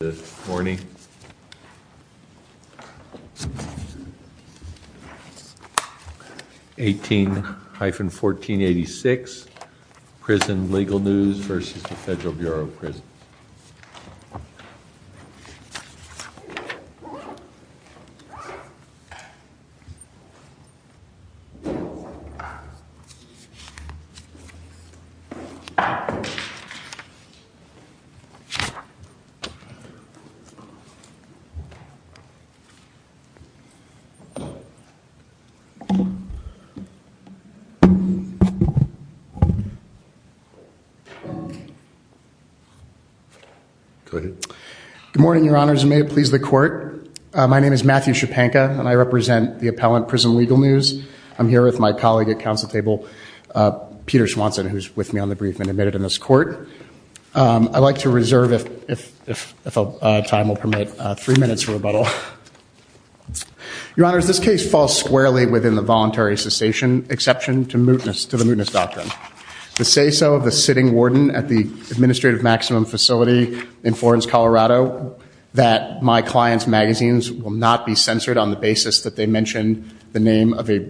Good morning, 18-1486, Prison Legal News v. Federal Bureau of Prisons. Good morning, Your Honors, and may it please the Court. My name is Matthew Schepanka, and I represent the appellant, Prison Legal News. I'm here with my colleague at counsel table, Peter Swanson, who's with me on the brief and admitted in this Court. I'd like to reserve, if time will permit, three minutes for rebuttal. Your Honors, this case falls squarely within the voluntary cessation exception to the mootness doctrine. The say-so of the sitting warden at the Administrative Maximum Facility in Florence, Colorado, that my client's magazines will not be censored on the basis that they mention the name of a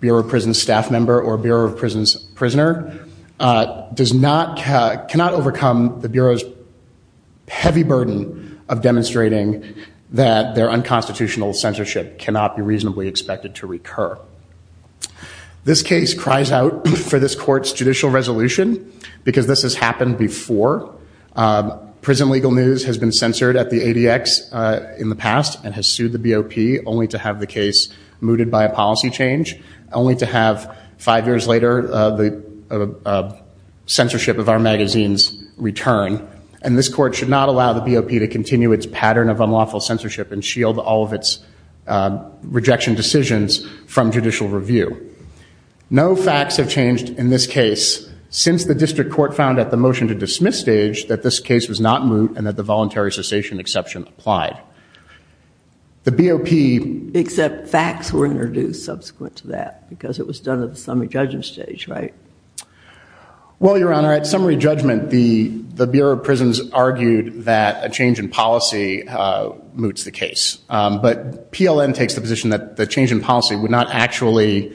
Bureau of Prisons staff member or Bureau of Prisons prisoner, does not, cannot overcome the Bureau's heavy burden of demonstrating that their unconstitutional censorship cannot be reasonably expected to recur. This case cries out for this Court's judicial resolution because this has happened before. Prison Legal News has been censored at the ADX in the past and has sued the BOP only to have the case mooted by a policy change, only to have five years later the censorship of our magazines return, and this Court should not allow the BOP to continue its pattern of unlawful censorship and shield all of its rejection decisions from judicial review. No facts have changed in this case since the district court found at the motion to dismiss stage that this case was not moot and that the voluntary cessation exception applied. The BOP- Except facts were introduced subsequent to that because it was done at the summary judgment stage, right? Well, Your Honor, at summary judgment, the Bureau of Prisons argued that a change in policy moots the case. But PLN takes the position that the change in policy would not actually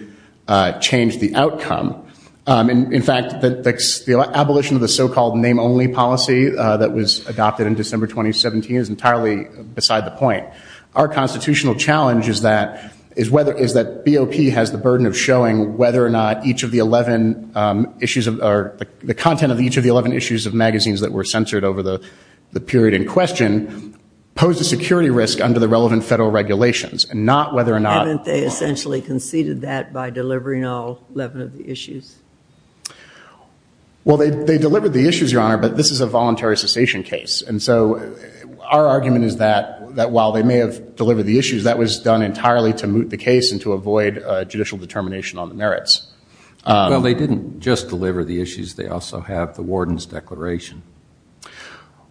change the outcome. In fact, the abolition of the so-called name-only policy that was adopted in December 2017 is entirely beside the point. Our constitutional challenge is that BOP has the burden of showing whether or not each of the 11 issues or the content of each of the 11 issues of magazines that were censored over the period in question posed a security risk under the relevant federal regulations, and not whether or not- Haven't they essentially conceded that by delivering all 11 of the issues? Well, they delivered the issues, Your Honor, but this is a voluntary cessation case. And so our argument is that while they may have delivered the issues, that was done entirely to moot the case and to avoid judicial determination on the merits. Well, they didn't just deliver the issues. They also have the warden's declaration.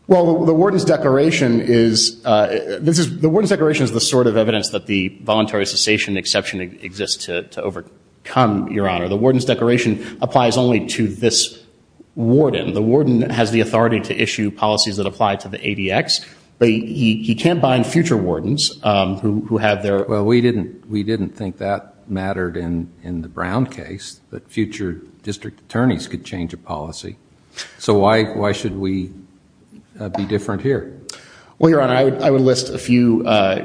Well, the warden's declaration is- the warden's declaration is the sort of evidence that the voluntary cessation exception exists to overcome, Your Honor. The warden's declaration applies only to this warden. The warden has the authority to issue policies that apply to the ADX, but he can't bind future wardens who have their- Well, we didn't think that mattered in the Brown case, that future district attorneys could change a policy. So why should we be different here? Well, Your Honor, I would list a few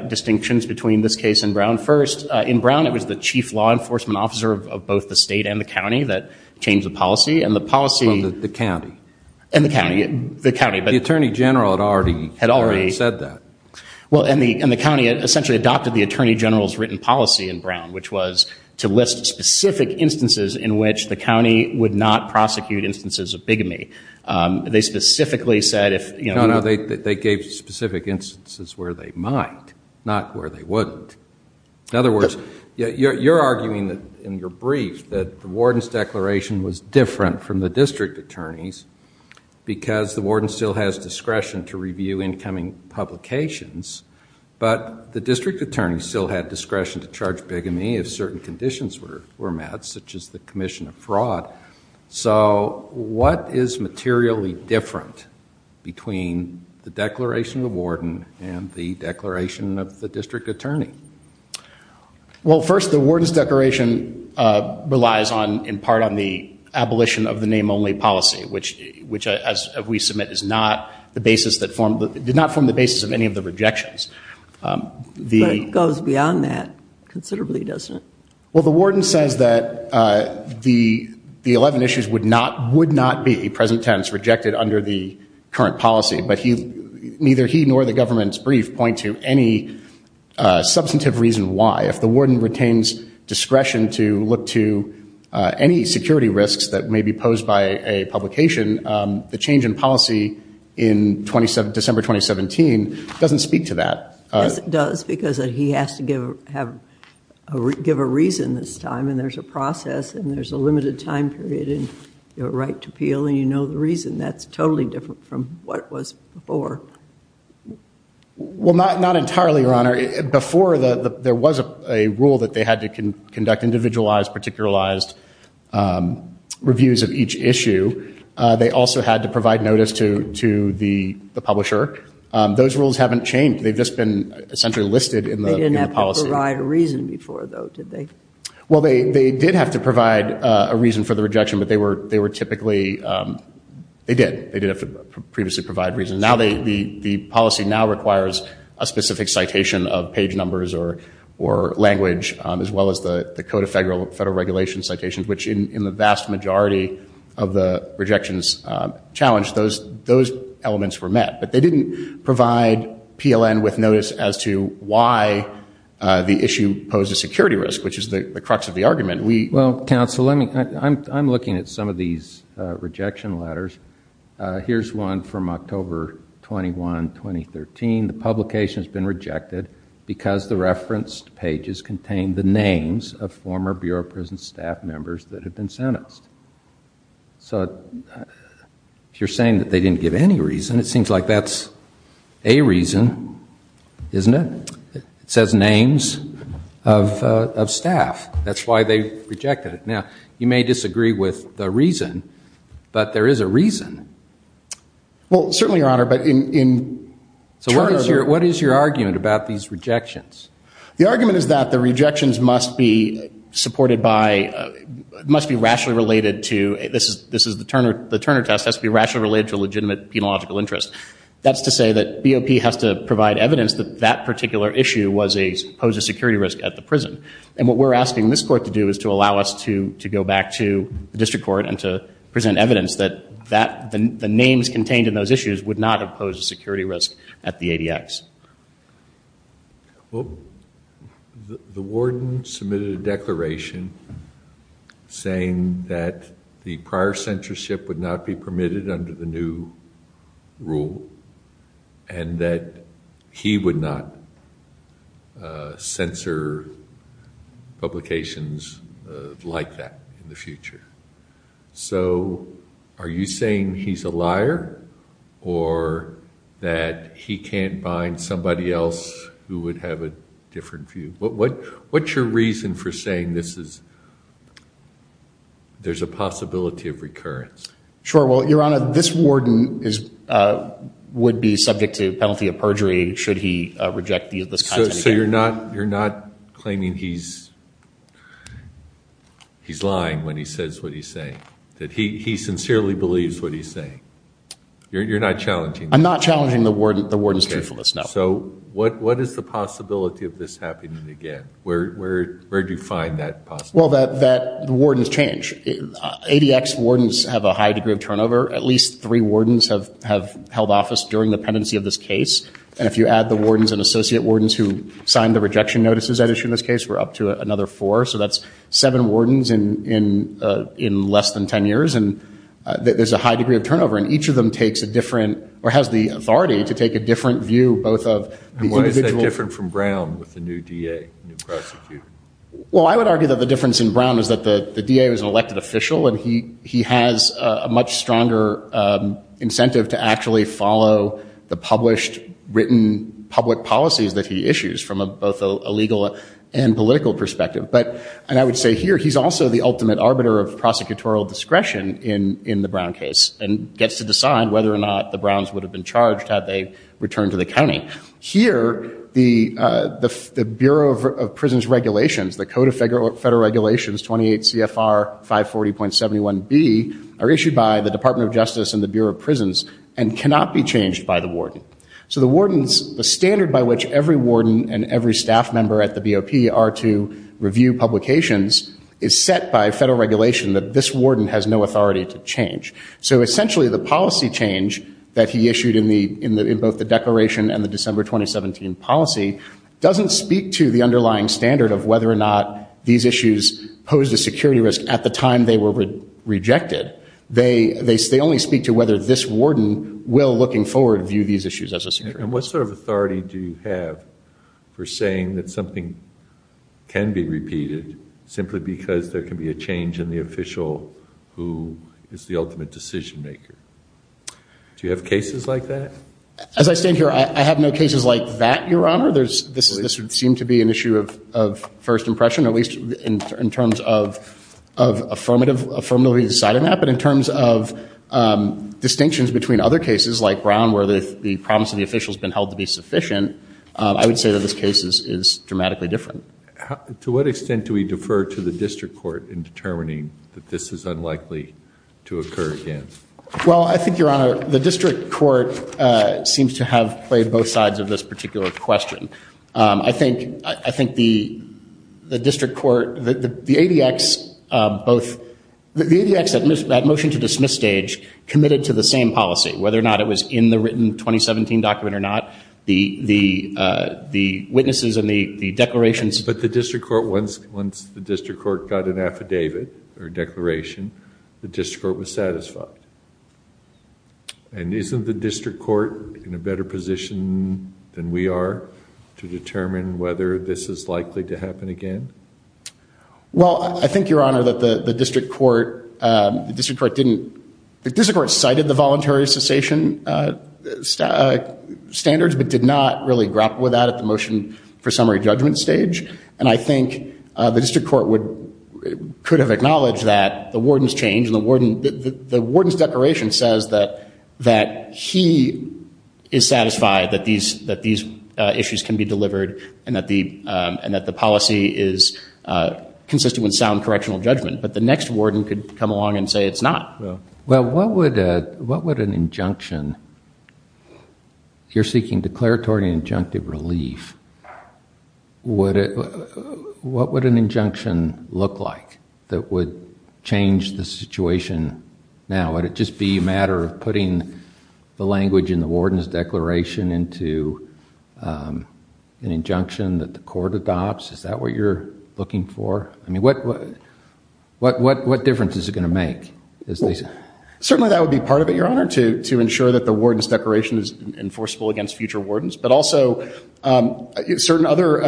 distinctions between this case and Brown. First, in Brown, it was the chief law enforcement officer of both the state and the county that changed the policy. And the policy- And the county. And the county. The county, but- The attorney general had already- Had already- Said that. Well, and the county essentially adopted the attorney general's written policy in Brown, which was to list specific instances in which the county would not prosecute instances of bigamy. They specifically said if- No, no. They gave specific instances where they might, not where they wouldn't. In other words, you're arguing in your brief that the warden's declaration was different from the district attorney's because the warden still has discretion to review incoming publications, but the district attorney still had discretion to charge bigamy if certain conditions were met, such as the commission of fraud. So what is materially different between the declaration of the warden and the declaration of the district attorney? Well, first, the warden's declaration relies on, in part, on the abolition of the name-only policy, which, as we submit, is not the basis that formed, did not form the basis of any of the rejections. But it goes beyond that considerably, doesn't it? Well, the warden says that the 11 issues would not be, present tense, rejected under the substantive reason why. If the warden retains discretion to look to any security risks that may be posed by a publication, the change in policy in December 2017 doesn't speak to that. Yes, it does, because he has to give a reason this time, and there's a process, and there's a limited time period in your right to appeal, and you know the reason. That's totally different from what it was before. Well, not entirely, Your Honor. Before, there was a rule that they had to conduct individualized, particularized reviews of each issue. They also had to provide notice to the publisher. Those rules haven't changed. They've just been, essentially, listed in the policy. They didn't have to provide a reason before, though, did they? Well, they did have to provide a reason for the rejection, but they were typically, they did. They did have to previously provide a reason. The policy now requires a specific citation of page numbers or language, as well as the Code of Federal Regulations citations, which, in the vast majority of the rejections challenged, those elements were met, but they didn't provide PLN with notice as to why the issue posed a security risk, which is the crux of the argument. Well, counsel, I'm looking at some of these rejection letters. Here's one from October 21, 2013. The publication has been rejected because the referenced pages contain the names of former Bureau of Prisons staff members that have been sentenced. So if you're saying that they didn't give any reason, it seems like that's a reason, isn't it? It says names of staff. That's why they rejected it. Now, you may disagree with the reason, but there is a reason. Well, certainly, Your Honor, but in terms of- What is your argument about these rejections? The argument is that the rejections must be supported by, must be rationally related to, this is the Turner test, has to be rationally related to legitimate penological interest. That's to say that BOP has to provide evidence that that particular issue posed a security risk at the prison. What we're asking this court to do is to allow us to go back to the district court and to present evidence that the names contained in those issues would not have posed a security risk at the ADX. The warden submitted a declaration saying that the prior censorship would not be permitted under the new rule, and that he would not censor publications like that in the future. So are you saying he's a liar, or that he can't bind somebody else who would have a different view? What's your reason for saying there's a possibility of recurrence? Sure. Well, Your Honor, this warden would be subject to penalty of perjury should he reject this content again. So you're not claiming he's lying when he says what he's saying, that he sincerely believes what he's saying? You're not challenging that? I'm not challenging the warden's truthfulness, no. So what is the possibility of this happening again? Where do you find that possibility? Well, that the wardens change. ADX wardens have a high degree of turnover. At least three wardens have held office during the pendency of this case. And if you add the wardens and associate wardens who signed the rejection notices that issue in this case, we're up to another four. So that's seven wardens in less than 10 years. And there's a high degree of turnover. And each of them takes a different, or has the authority to take a different view, both of these individuals. And why is that different from Brown with the new DA, new prosecutor? Well, I would argue that the difference in Brown is that the DA was an elected official. And he has a much stronger incentive to actually follow the published, written public policies that he issues from both a legal and political perspective. But I would say here, he's also the ultimate arbiter of prosecutorial discretion in the Brown case, and gets to decide whether or not the Browns would have been charged had they returned to the county. Here, the Bureau of Prisons Regulations, the Code of Federal Regulations 28 CFR 540.71B, are issued by the Department of Justice and the Bureau of Prisons, and cannot be changed by the warden. So the standard by which every warden and every staff member at the BOP are to review publications is set by federal regulation that this warden has no authority to change. So essentially, the policy change that he issued in both the declaration and the December 2017 policy doesn't speak to the underlying standard of whether or not these issues posed a security risk at the time they were rejected. They only speak to whether this warden will, looking forward, view these issues as a security risk. And what sort of authority do you have for saying that something can be repeated simply because there can be a change in the official who is the ultimate decision maker? Do you have cases like that? As I stand here, I have no cases like that, Your Honor. This would seem to be an issue of first impression, at least in terms of affirmatively deciding that. But in terms of distinctions between other cases, like Brown, where the promise of the official has been held to be sufficient, I would say that this case is dramatically different. To what extent do we defer to the district court in determining that this is unlikely to occur again? Well, I think, Your Honor, the district court seems to have played both sides of this particular question. I think the district court, the ADX, both, the ADX, that motion to dismiss stage, committed to the same policy, whether or not it was in the written 2017 document or not. The witnesses and the declarations... But the district court, once the district court got an affidavit or declaration, the district court was satisfied. And isn't the district court in a better position than we are to determine whether this is likely to happen again? Well, I think, Your Honor, that the district court cited the voluntary cessation standards but did not really grapple with that at the motion for summary judgment stage. And I think the district court could have acknowledged that the warden's change, the warden's declaration says that he is satisfied that these issues can be delivered and that the policy is consistent with sound correctional judgment. But the next warden could come along and say it's not. Well, what would an injunction, you're seeking declaratory injunctive relief, what would an injunction look like that would change the situation now? Would it just be a matter of putting the language in the warden's declaration into an injunction that the court adopts? Is that what you're looking for? I mean, what difference is it going to make? Certainly, that would be part of it, Your Honor, to ensure that the warden's declaration is enforceable against future wardens. But also, certain other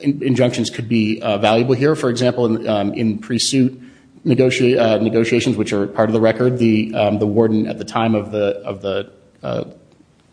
injunctions could be valuable here. For example, in pre-suit negotiations, which are part of the record, the warden at the time of the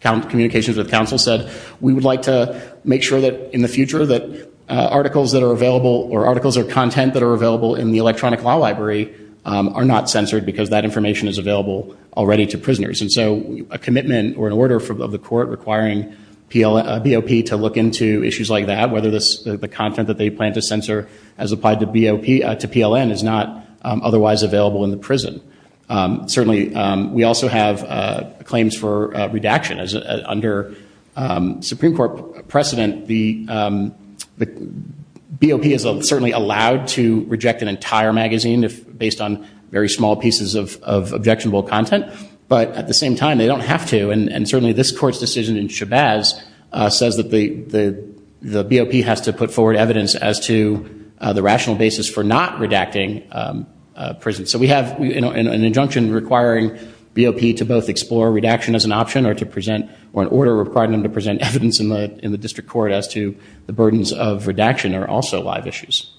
communications with counsel said, we would like to make sure that in the future that articles that are available or articles or content that are available in the electronic law library are not censored because that information is available already to prisoners. And so a commitment or an order of the court requiring BOP to look into issues like that, whether the content that they plan to censor as applied to PLN is not otherwise available in the prison. Certainly, we also have claims for redaction. Under Supreme Court precedent, the BOP is certainly allowed to reject an entire magazine based on very small pieces of objectionable content. But at the same time, they don't have to. And certainly, this court's decision in Shabazz says that the BOP has to put forward evidence as to the rational basis for not redacting prisons. So we have an injunction requiring BOP to both explore redaction as an option or to present or an order requiring them to present evidence in the district court as to the burdens of redaction are also live issues.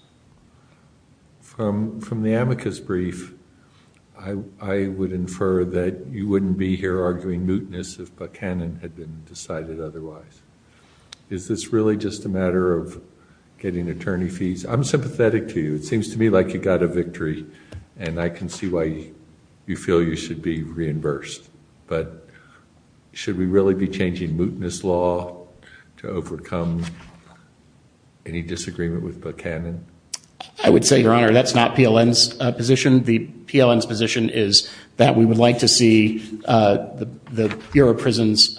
From the amicus brief, I would infer that you wouldn't be here arguing mootness if Buchanan had been decided otherwise. Is this really just a matter of getting attorney fees? I'm sympathetic to you. It seems to me like you got a victory. And I can see why you feel you should be reimbursed. But should we really be changing mootness law to overcome any disagreement with Buchanan? I would say, Your Honor, that's not PLN's position. The PLN's position is that we would like to see the Bureau of Prisons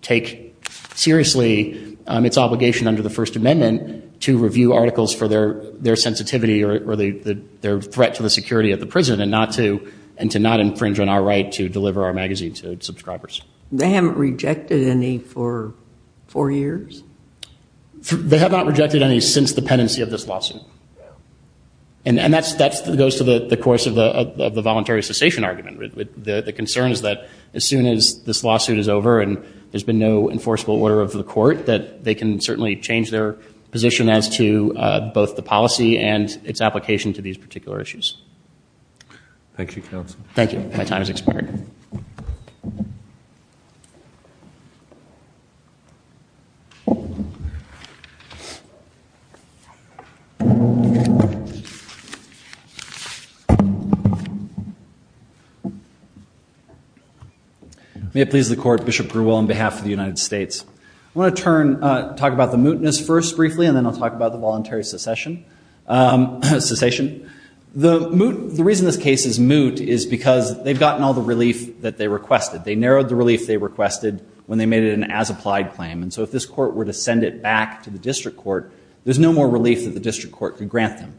take seriously its obligation under the First Amendment to review articles for their sensitivity or their threat to the security of the prison and to not infringe on our right to deliver our magazine to subscribers. They haven't rejected any for four years? They have not rejected any since the penancy of this lawsuit. And that goes to the course of the voluntary cessation argument. The concern is that as soon as this lawsuit is over and there's been no enforceable order of the court, that they can certainly change their position as to both the policy and its application to these particular issues. Thank you, counsel. Thank you. My time has expired. May it please the court, Bishop Grewell, on behalf of the United States, I want to talk about the mootness first briefly, and then I'll talk about the voluntary cessation. The reason this case is moot is because they've gotten all the relief that they requested. They narrowed the relief they requested when they made it an as-applied claim. And so if this court were to send it back to the district court, there's no more relief that the district court could grant them.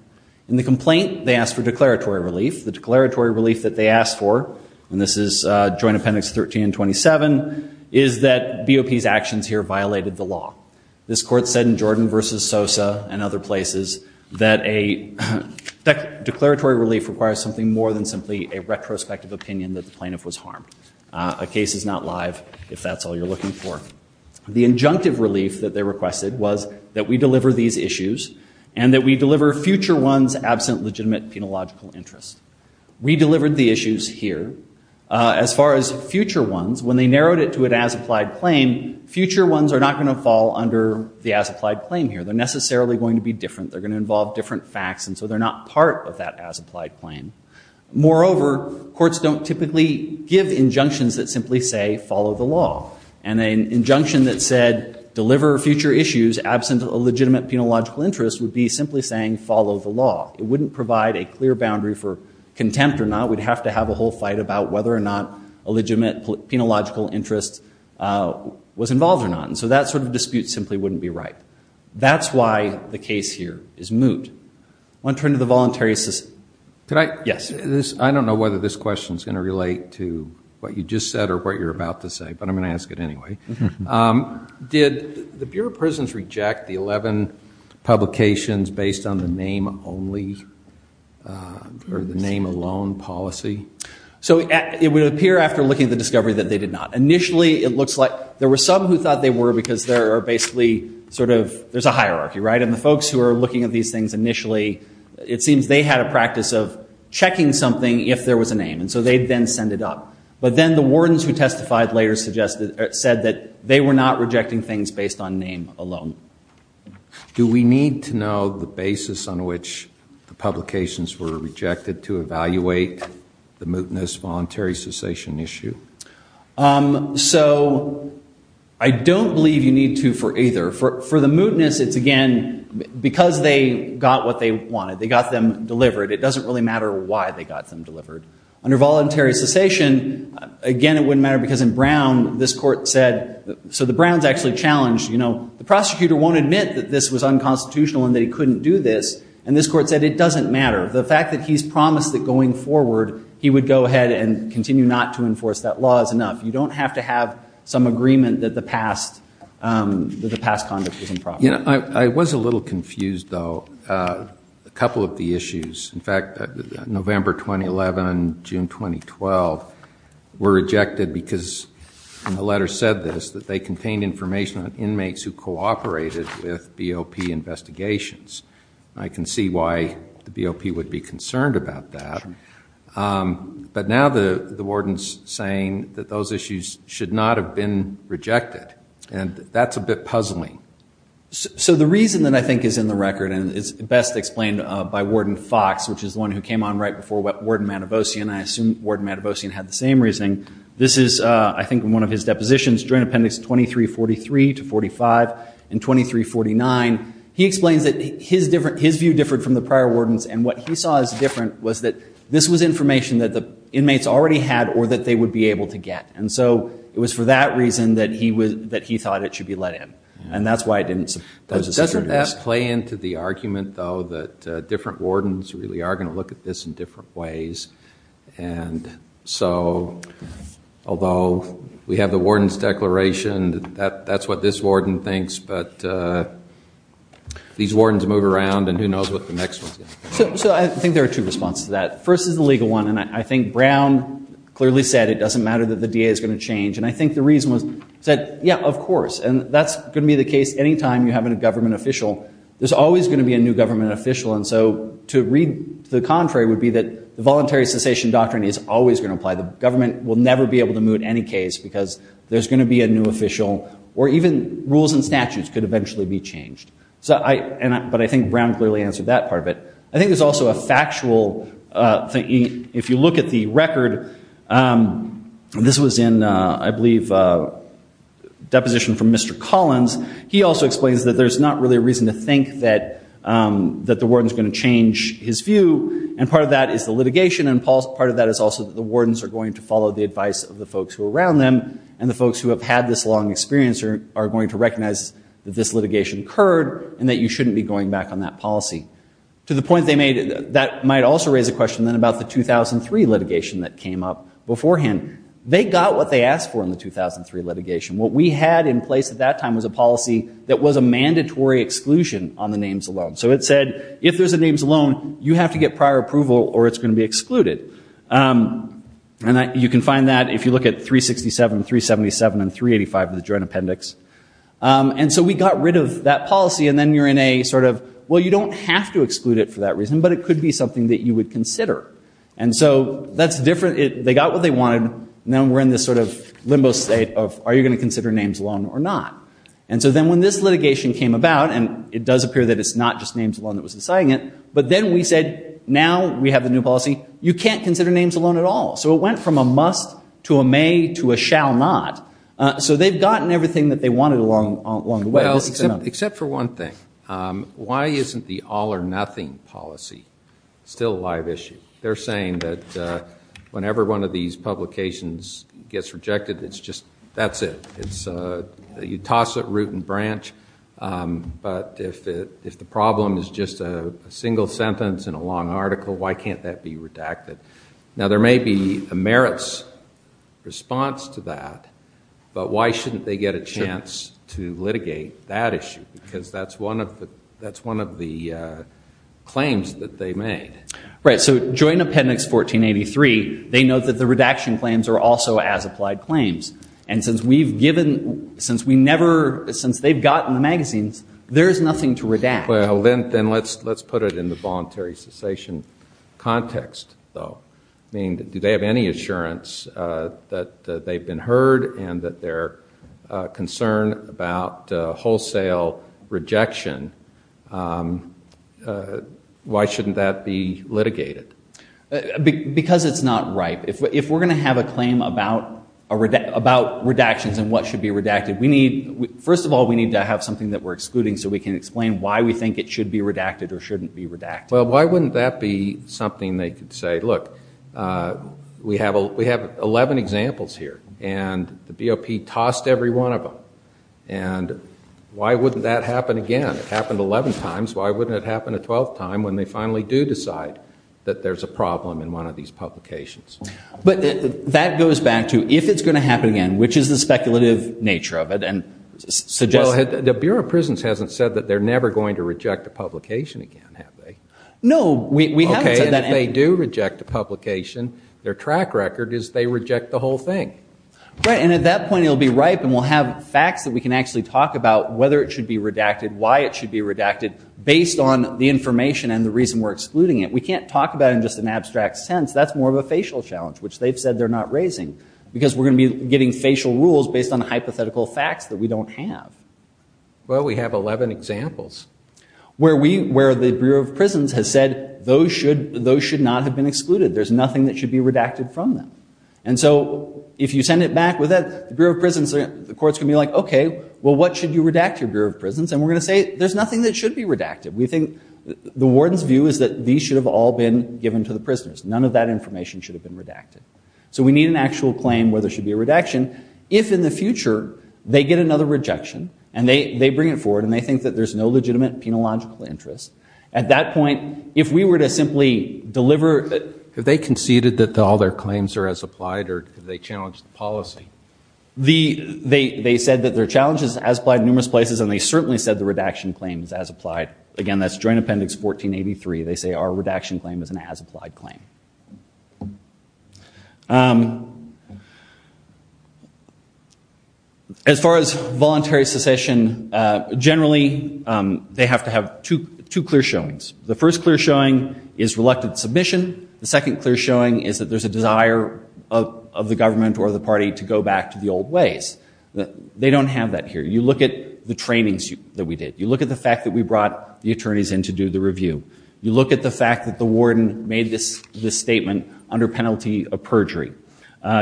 In the complaint, they asked for declaratory relief. The declaratory relief that they asked for, and this is Joint Appendix 13 and 27, is that BOP's actions here violated the law. This court said in Jordan versus Sosa and other places that a declaratory relief requires something more than simply a retrospective opinion that the plaintiff was harmed. A case is not live if that's all you're looking for. The injunctive relief that they requested was that we deliver these issues and that we deliver future ones absent legitimate penological interest. We delivered the issues here. As far as future ones, when they narrowed it to an as-applied claim, future ones are not going to fall under the as-applied claim here. They're necessarily going to be different. They're going to involve different facts, and so they're not part of that as-applied claim. Moreover, courts don't typically give injunctions that simply say follow the law. And an injunction that said deliver future issues absent a legitimate penological interest would be simply saying follow the law. It wouldn't provide a clear boundary for contempt or not. We'd have to have a whole fight about whether or not a legitimate penological interest was involved or not. And so that sort of dispute simply wouldn't be right. That's why the case here is moot. I want to turn to the voluntary assistant. Could I? Yes. I don't know whether this question is going to relate to what you just said or what you're about to say, but I'm going to ask it anyway. Did the Bureau of Prisons reject the 11 publications based on the name only or the name alone policy? So it would appear after looking at the discovery that they did not. Initially, it looks like there were some who thought they were because there are basically sort of, there's a hierarchy, right? And the folks who are looking at these things initially, it seems they had a practice of checking something if there was a name. And so they then send it up. But then the wardens who testified later said that they were not rejecting things based on name alone. Do we need to know the basis on which the publications were rejected to evaluate the mootness voluntary cessation issue? So I don't believe you need to for either. For the mootness, it's again because they got what they wanted. They got them delivered. It doesn't really matter why they got them delivered. Under voluntary cessation, again, it wouldn't matter because in Brown, this court said, so the Browns actually challenged, you know, the prosecutor won't admit that this was unconstitutional and that he couldn't do this. And this court said it doesn't matter. The fact that he's promised that going forward, he would go ahead and continue not to enforce that law is enough. You don't have to have some agreement that the past conduct was improper. You know, I was a little confused, though, a couple of the issues. In fact, November 2011, June 2012 were rejected because the letter said this, that they contained information on inmates who cooperated with BOP investigations. I can see why the BOP would be concerned about that. But now the warden's saying that those issues should not have been rejected. And that's a bit puzzling. So the reason that I think is in the record and is best explained by Warden Fox, which is the one who came on right before Warden Matavosian. I assume Warden Matavosian had the same reasoning. This is, I think, in one of his depositions, Joint Appendix 2343 to 45 and 2349. He explains that his view differed from the prior warden's. And what he saw as different was that this was information that the inmates already had or that they would be able to get. And so it was for that reason that he thought it should be let in. And that's why it didn't. But doesn't that play into the argument, though, that different wardens really are going to look at this in different ways? And so, although we have the warden's declaration, that's what this warden thinks. But these wardens move around, and who knows what the next one's going to be. So I think there are two responses to that. First is the legal one. And I think Brown clearly said it doesn't matter that the DA is going to change. And I think the reason was he said, yeah, of course. And that's going to be the case any time you have a government official. There's always going to be a new government official. And so to read to the contrary would be that the voluntary cessation doctrine is always going to apply. The government will never be able to move any case because there's going to be a new official or even rules and statutes could eventually be changed. But I think Brown clearly answered that part of it. I think there's also a factual thing. If you look at the record, this was in, I believe, a deposition from Mr. Collins. He also explains that there's not really a reason to think that the warden's going to change his view. And part of that is the litigation. And part of that is also that the wardens are going to follow the advice of the folks who are around them, and the folks who have had this long experience are going to recognize that this litigation occurred and that you shouldn't be going back on that policy. To the point they made, that might also raise a question then about the 2003 litigation that came up beforehand. They got what they asked for in the 2003 litigation. What we had in place at that time was a policy that was a mandatory exclusion on the names alone. So it said, if there's a names alone, you have to get prior approval or it's going to be excluded. And you can find that if you look at 367, 377, and 385 of the Joint Appendix. And so we got rid of that policy. And then you're in a sort of, well, you don't have to exclude it for that reason, but it could be something that you would consider. And so that's different. They got what they wanted. Now we're in this sort of limbo state of, are you going to consider names alone or not? And so then when this litigation came about, and it does appear that it's not just names alone that was deciding it. But then we said, now we have the new policy. You can't consider names alone at all. So it went from a must to a may to a shall not. So they've gotten everything that they wanted along the way. Except for one thing. Why isn't the all or nothing policy still a live issue? They're saying that whenever one of these publications gets rejected, it's just, that's it. It's, you toss it root and branch. But if the problem is just a single sentence in a long article, why can't that be redacted? Now there may be a merits response to that. But why shouldn't they get a chance to litigate that issue? Because that's one of the claims that they made. Right. So joint appendix 1483, they note that the redaction claims are also as applied claims. And since we've given, since we never, since they've gotten the magazines, there's nothing to redact. Well, then let's put it in the voluntary cessation context though. I mean, do they have any assurance that they've been heard and that they're concerned about wholesale rejection? Why shouldn't that be litigated? Because it's not ripe. If we're going to have a claim about redactions and what should be redacted, we need, first of all, we need to have something that we're excluding so we can explain why we think it should be redacted or shouldn't be redacted. Well, why wouldn't that be something they could say, look, we have 11 examples here and the BOP tossed every one of them. And why wouldn't that happen again? It happened 11 times. Why wouldn't it happen a 12th time when they finally do decide that there's a problem in one of these publications? But that goes back to, if it's going to happen again, which is the speculative nature of it? Well, the Bureau of Prisons hasn't said that they're never going to reject a publication again, have they? No, we haven't said that. Okay, and if they do reject a publication, their track record is they reject the whole thing. Right, and at that point it'll be ripe and we'll have facts that we can actually talk about whether it should be redacted, why it should be redacted, based on the information and the reason we're excluding it. We can't talk about it in just an abstract sense. That's more of a facial challenge, which they've said they're not raising. Because we're going to be getting facial rules based on hypothetical facts that we don't have. Well, we have 11 examples. Where the Bureau of Prisons has said those should not have been excluded. There's nothing that should be redacted from them. And so if you send it back, the Bureau of Prisons, the courts can be like, okay, well, what should you redact your Bureau of Prisons? And we're going to say there's nothing that should be redacted. We think the warden's view is that these should have all been given to the prisoners. None of that information should have been redacted. So we need an actual claim where there should be a redaction. If in the future, they get another rejection, and they bring it forward, and they think that there's no legitimate penological interest, at that point, if we were to simply deliver... Have they conceded that all their claims are as applied, or have they challenged the policy? They said that their challenge is as applied in numerous places, and they certainly said the redaction claim is as applied. Again, that's Joint Appendix 1483. They say our redaction claim is an as applied claim. As far as voluntary secession, generally, they have to have two clear showings. The first clear showing is reluctant submission. The second clear showing is that there's a desire of the government or the party to go back to the old ways. They don't have that here. You look at the trainings that we did. You look at the fact that we brought the attorneys in to do the review. You look at the fact that the warden made this statement under penalty of perjury.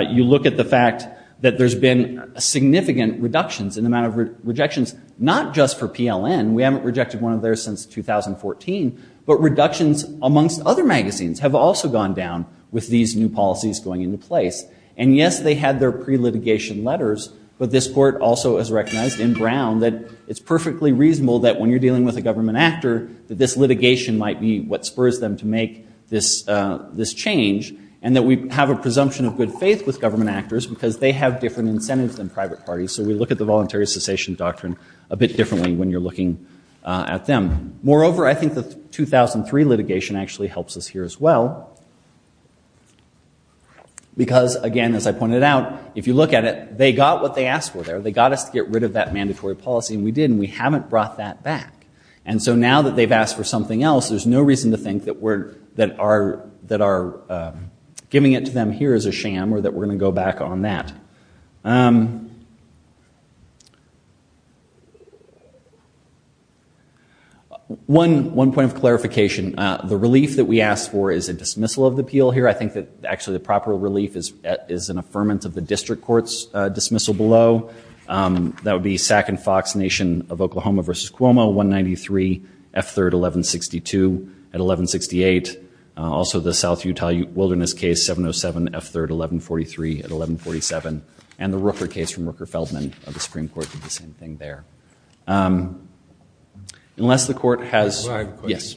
You look at the fact that there's been significant reductions in the amount of rejections, not just for PLN, we haven't rejected one of theirs since 2014, but reductions amongst other magazines have also gone down with these new policies going into place. And yes, they had their pre-litigation letters, but this court also has recognized in Brown that it's perfectly reasonable that when you're dealing with a government actor, that this litigation might be what spurs them to make this change, and that we have a presumption of good faith with government actors because they have different incentives than private parties. So we look at the voluntary cessation doctrine a bit differently when you're looking at them. Moreover, I think the 2003 litigation actually helps us here as well. Because again, as I pointed out, if you look at it, they got what they asked for there. They got us to get rid of that mandatory policy, and we did. We got that back. And so now that they've asked for something else, there's no reason to think that our giving it to them here is a sham, or that we're going to go back on that. One point of clarification, the relief that we asked for is a dismissal of the appeal here. I think that actually the proper relief is an affirmance of the district court's dismissal below. That would be Sac and Fox Nation of Oklahoma versus Cuomo, 193 F3rd 1162 at 1168. Also the South Utah Wilderness case, 707 F3rd 1143 at 1147. And the Rooker case from Rooker-Feldman of the Supreme Court did the same thing there. Unless the court has, yes.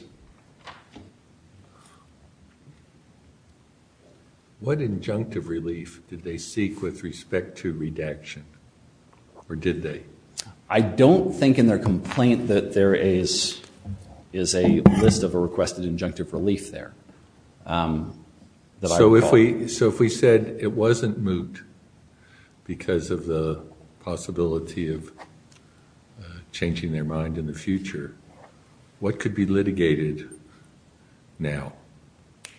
What injunctive relief did they seek with respect to redaction, or did they? I don't think in their complaint that there is a list of a requested injunctive relief there. So if we said it wasn't moot because of the possibility of changing their mind in the future, what could be litigated now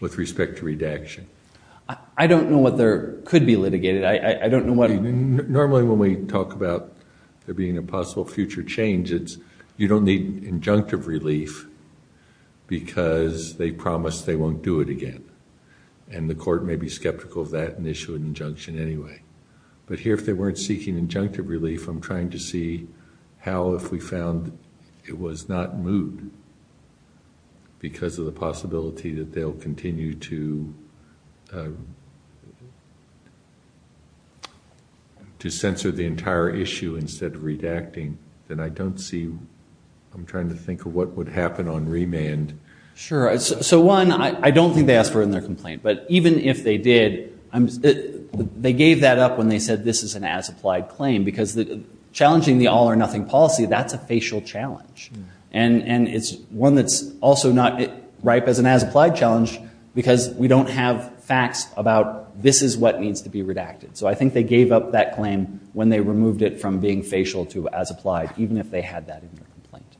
with respect to redaction? I don't know what there could be litigated. I don't know what. Normally when we talk about there being a possible future change, it's you don't need injunctive relief because they promised they won't do it again. And the court may be skeptical of that and issue an injunction anyway. But here if they weren't seeking injunctive relief, I'm trying to see how if we found it was not moot because of the possibility that they'll continue to censor the entire issue instead of redacting. Then I don't see, I'm trying to think of what would happen on remand. Sure. So one, I don't think they asked for it in their complaint. But even if they did, they gave that up when they said this is an as-applied claim. Challenging the all-or-nothing policy, that's a facial challenge. And it's one that's also not ripe as an as-applied challenge because we don't have facts about this is what needs to be redacted. So I think they gave up that claim when they removed it from being facial to as-applied, even if they had that in their complaint.